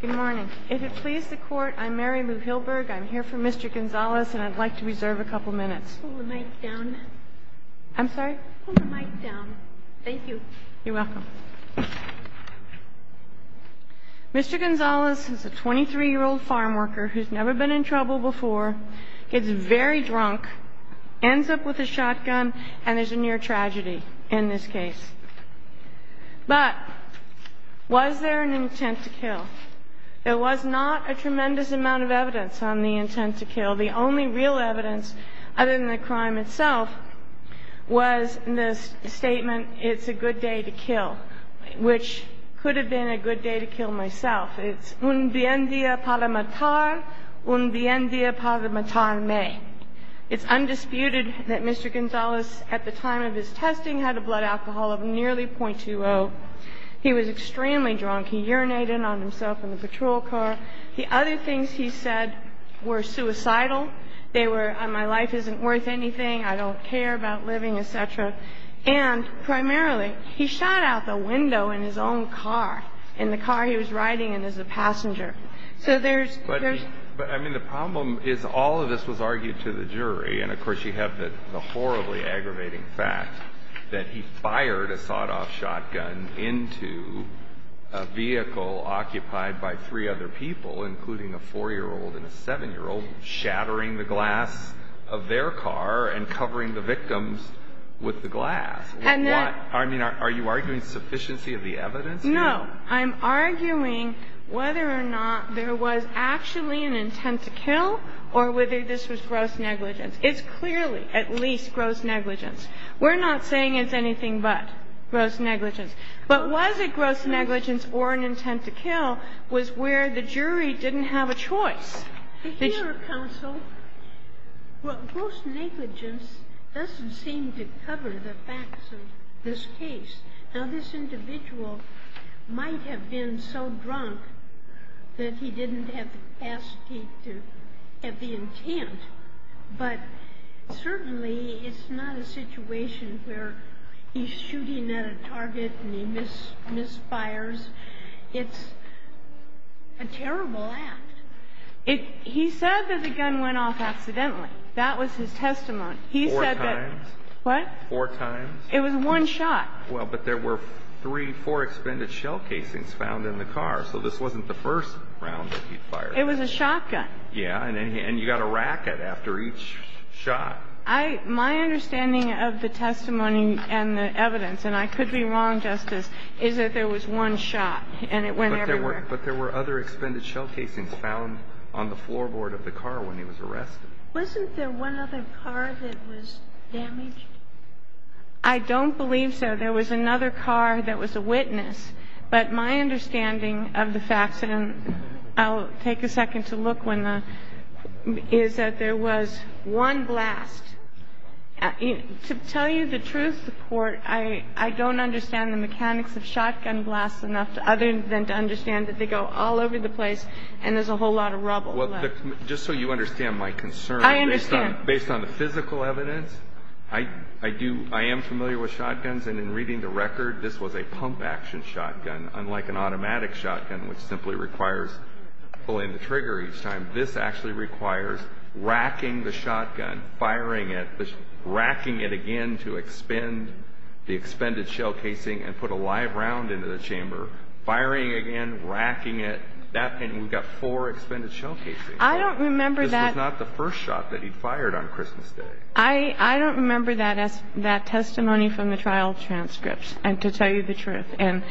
Good morning. If it pleases the Court, I'm Mary Lou Hilberg. I'm here for Mr. Gonzalez, and I'd like to reserve a couple minutes. Pull the mic down. I'm sorry? Pull the mic down. Thank you. You're welcome. Mr. Gonzalez is a 23-year-old farm worker who's never been in trouble before, gets very drunk, ends up with a shotgun, and there's a near tragedy in this case. But was there an intent to kill? There was not a tremendous amount of evidence on the intent to kill. The only real evidence, other than the crime itself, was the statement, it's a good day to kill, which could have been a good day to kill myself. It's un bien día para matar, un bien día para matarme. It's undisputed that Mr. Gonzalez, at the time of his testing, had a blood alcohol of nearly 0.20. He was extremely drunk. He urinated on himself in the patrol car. The other things he said were suicidal. They were, my life isn't worth anything, I don't care about living, et cetera. And primarily, he shot out the window in his own car, in the car he was riding in as a passenger. So there's, there's... But, I mean, the problem is all of this was argued to the jury. And, of course, you have the horribly aggravating fact that he fired a sawed-off shotgun into a vehicle occupied by three other people, including a 4-year-old and a 7-year-old, shattering the glass of their car and covering the victims with the glass. And that... I mean, are you arguing sufficiency of the evidence here? No. I'm arguing whether or not there was actually an intent to kill or whether this was gross negligence. It's clearly, at least, gross negligence. We're not saying it's anything but gross negligence. But was it gross negligence or an intent to kill was where the jury didn't have a choice. But, Your Honor, counsel, what gross negligence doesn't seem to cover the facts of this case. Now, this individual might have been so drunk that he didn't have the capacity to have the intent. But, certainly, it's not a situation where he's shooting at a target and he misfires. It's a terrible act. He said that the gun went off accidentally. That was his testimony. He said that... Four times. What? Four times. It was one shot. Well, but there were three, four expended shell casings found in the car. So this wasn't the first round that he fired. It was a shotgun. Yeah. And you got a racket after each shot. My understanding of the testimony and the evidence, and I could be wrong, Justice, is that there was one shot and it went everywhere. But there were other expended shell casings found on the floorboard of the car when he was arrested. Wasn't there one other car that was damaged? I don't believe so. There was another car that was a witness. But my understanding of the facts, and I'll take a second to look, is that there was one blast. To tell you the truth, I don't understand the mechanics of shotgun blasts enough other than to understand that they go all over the place and there's a whole lot of rubble. I understand. Based on the physical evidence, I do, I am familiar with shotguns. And in reading the record, this was a pump-action shotgun, unlike an automatic shotgun, which simply requires pulling the trigger each time. This actually requires racking the shotgun, firing it, racking it again to expend the expended shell casing and put a live round into the chamber, firing again, racking it. That thing, we've got four expended shell casings. I don't remember that. It was not the first shot that he fired on Christmas Day. I don't remember that testimony from the trial transcripts, to tell you the truth. And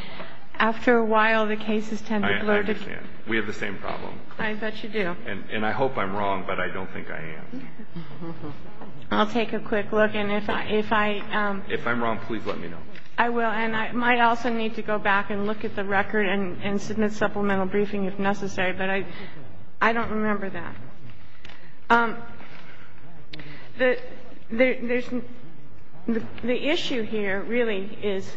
after a while, the cases tend to blur. I understand. We have the same problem. I bet you do. And I hope I'm wrong, but I don't think I am. I'll take a quick look. And if I'm wrong, please let me know. I will. And I might also need to go back and look at the record and submit supplemental briefing if necessary. I'm sorry, but I don't remember that. The issue here really is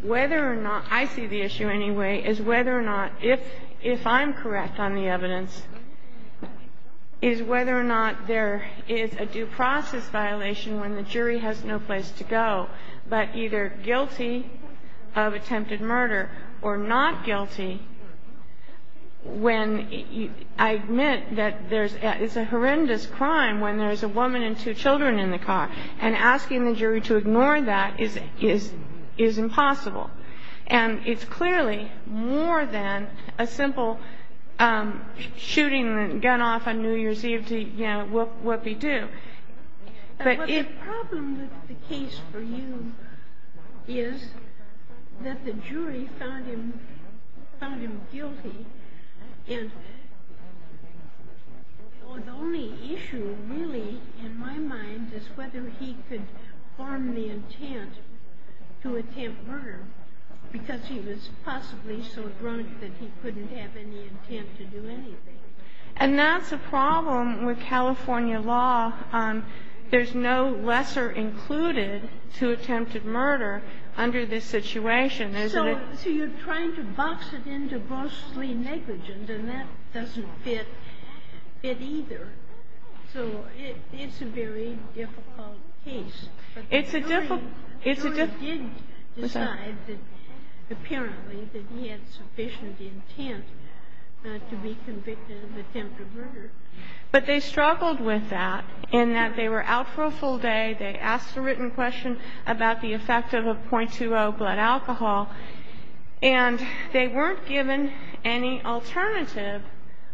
whether or not, I see the issue anyway, is whether or not, if I'm correct on the evidence, is whether or not there is a due process violation when the jury has no place to go, but either guilty of attempted murder or not guilty when I admit that it's a horrendous crime when there's a woman and two children in the car. And asking the jury to ignore that is impossible. And it's clearly more than a simple shooting the gun off on New Year's Eve, you know, what we do. But the problem with the case for you is that the jury found him guilty. And the only issue really in my mind is whether he could form the intent to attempt murder because he was possibly so drunk that he couldn't have any intent to do anything. And that's a problem with California law. There's no lesser included to attempted murder under this situation, isn't it? So you're trying to box it into grossly negligent, and that doesn't fit either. So it's a very difficult case. It's a difficult case. The jury did decide that apparently that he had sufficient intent to be convicted of attempted murder. But they struggled with that in that they were out for a full day, they asked a written question about the effect of a .20 blood alcohol, and they weren't given any alternative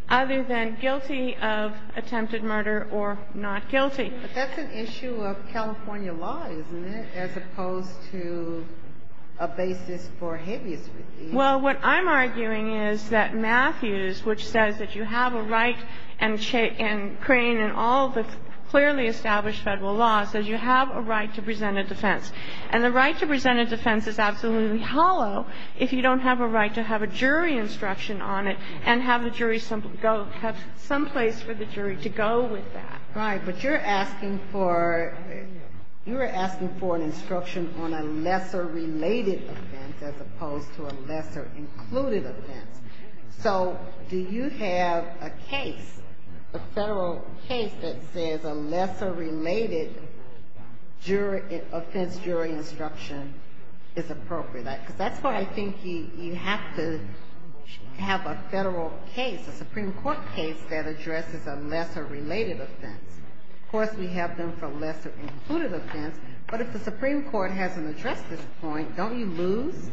other than guilty of attempted murder or not guilty. But that's an issue of California law, isn't it, as opposed to a basis for habeas. Well, what I'm arguing is that Matthews, which says that you have a right and Crane and all the clearly established federal laws, says you have a right to present a defense. And the right to present a defense is absolutely hollow if you don't have a right to have a jury instruction on it and have some place for the jury to go with that. Right. But you're asking for an instruction on a lesser related offense as opposed to a lesser included offense. So do you have a case, a federal case, that says a lesser related offense jury instruction is appropriate? Because that's why I think you have to have a federal case, a Supreme Court case that addresses a lesser related offense. Of course, we have them for lesser included offense, but if the Supreme Court hasn't addressed this point, don't you lose?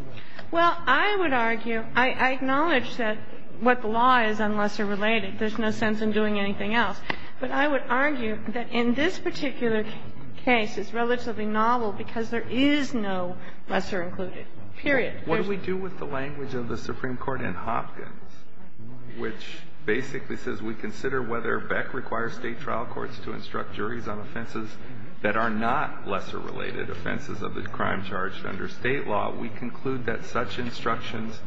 Well, I would argue, I acknowledge that what the law is on lesser related. There's no sense in doing anything else. But I would argue that in this particular case, it's relatively novel because there is no lesser included, period. What do we do with the language of the Supreme Court in Hopkins, which basically says we consider whether Beck requires State trial courts to instruct juries on offenses that are not lesser related, offenses of the crime charged under State law. We conclude that such instructions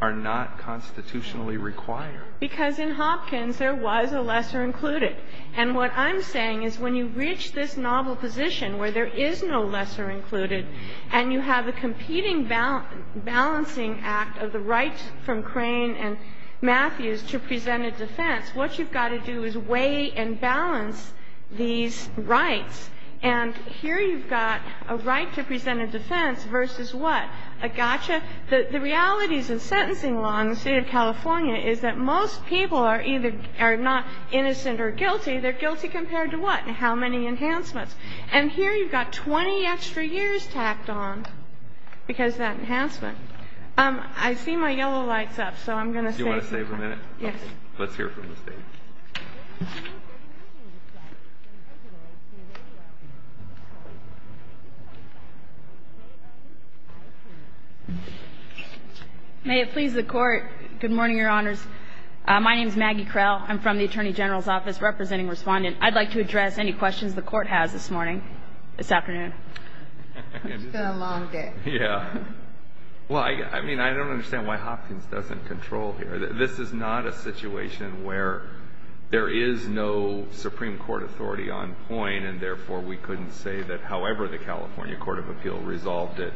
are not constitutionally required. Because in Hopkins, there was a lesser included. And what I'm saying is when you reach this novel position where there is no lesser included and you have a competing balancing act of the right from Crane and Matthews to present a defense, what you've got to do is weigh and balance these rights. And here you've got a right to present a defense versus what? A gotcha? The realities of sentencing law in the State of California is that most people are either not innocent or guilty. They're guilty compared to what? How many enhancements? And here you've got 20 extra years tacked on because of that enhancement. I see my yellow lights up, so I'm going to save my time. Do you want to save a minute? Yes. Let's hear from the State. May it please the Court. Good morning, Your Honors. My name is Maggie Crell. I'm from the Attorney General's Office representing Respondent. I'd like to address any questions the Court has this morning, this afternoon. It's been a long day. Yeah. Well, I mean, I don't understand why Hopkins doesn't control here. This is not a situation where there is no Supreme Court authority on point, and therefore we couldn't say that however the California Court of Appeal resolved it,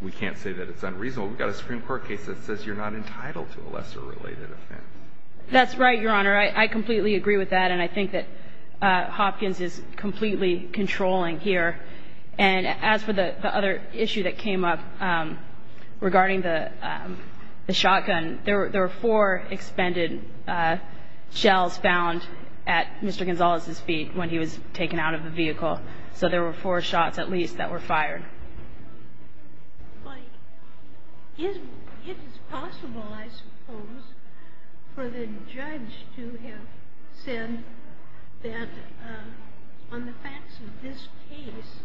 we can't say that it's unreasonable. We've got a Supreme Court case that says you're not entitled to a lesser related offense. That's right, Your Honor. I completely agree with that. And I think that Hopkins is completely controlling here. And as for the other issue that came up regarding the shotgun, there were four expended shells found at Mr. Gonzalez's feet when he was taken out of the vehicle. So there were four shots at least that were fired. It is possible, I suppose, for the judge to have said that on the facts of this case,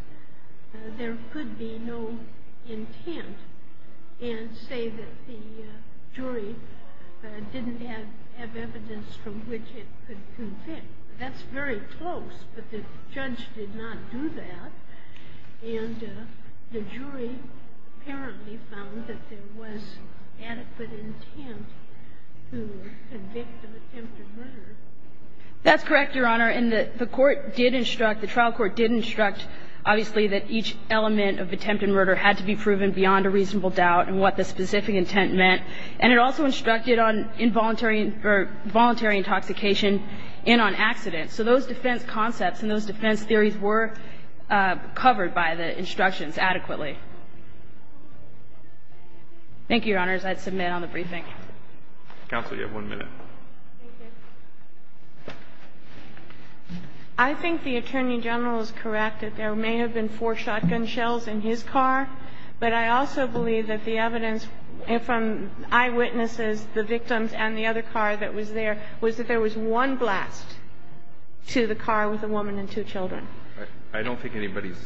there could be no intent and say that the jury didn't have evidence from which it could convict. That's very close, but the judge did not do that. And the jury apparently found that there was adequate intent to convict of attempted murder. That's correct, Your Honor. And the court did instruct, the trial court did instruct, obviously, that each element of attempted murder had to be proven beyond a reasonable doubt in what the specific intent meant. And it also instructed on involuntary or voluntary intoxication and on accident. So those defense concepts and those defense theories were covered by the instructions adequately. Thank you, Your Honors. I'd submit on the briefing. Counsel, you have one minute. Thank you. I think the Attorney General is correct that there may have been four shotgun shells in his car, but I also believe that the evidence from eyewitnesses, the victims, and the other car that was there was that there was one blast to the car with a woman and two children. I don't think anybody's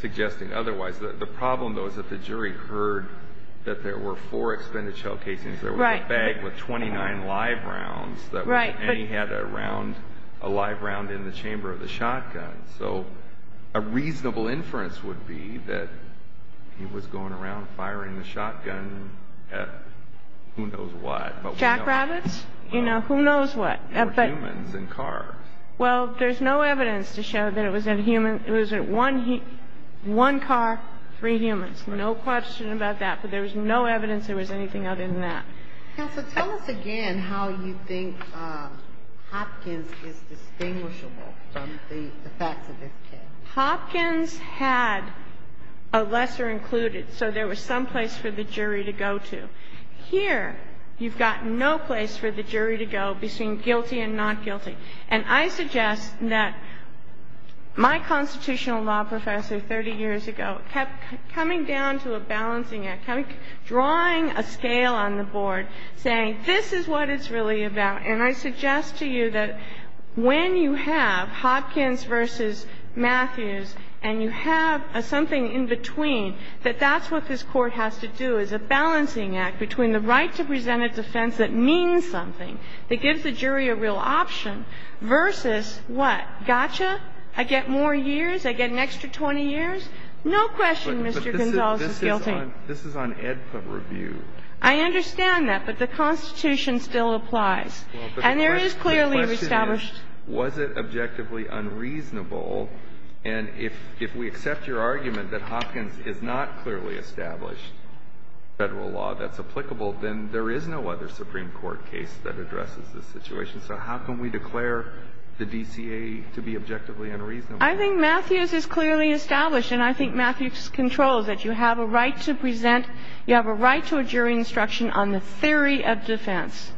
suggesting otherwise. The problem, though, is that the jury heard that there were four expended shell casings. Right. There was a bag with 29 live rounds. Right. And he had a round, a live round in the chamber of the shotgun. So a reasonable inference would be that he was going around firing the shotgun at who knows what. Jackrabbits? You know, who knows what. Or humans in cars. Well, there's no evidence to show that it was a human. It was one car, three humans. Right. No question about that. But there was no evidence there was anything other than that. Counsel, tell us again how you think Hopkins is distinguishable from the facts of this case. Hopkins had a lesser included, so there was some place for the jury to go to. Here, you've got no place for the jury to go between guilty and not guilty. And I suggest that my constitutional law professor 30 years ago kept coming down to a balancing act, drawing a scale on the board, saying this is what it's really about. And I suggest to you that when you have Hopkins v. Matthews and you have something in between, that that's what this Court has to do, is a balancing act between the right to present a defense that means something, that gives the jury a real option, versus what? Gotcha? I get more years? I get an extra 20 years? No question, Mr. Gonzales, is guilty. But this is on EDPA review. I understand that, but the Constitution still applies. And there is clearly established. Was it objectively unreasonable? And if we accept your argument that Hopkins is not clearly established federal law that's applicable, then there is no other Supreme Court case that addresses this situation. So how can we declare the DCA to be objectively unreasonable? I think Matthews is clearly established. And I think Matthews controls that you have a right to present, you have a right to a jury instruction on the theory of defense.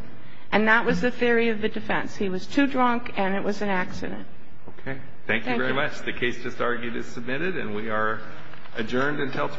And that was the theory of the defense. He was too drunk, and it was an accident. Okay. Thank you very much. The case just argued is submitted, and we are adjourned until tomorrow.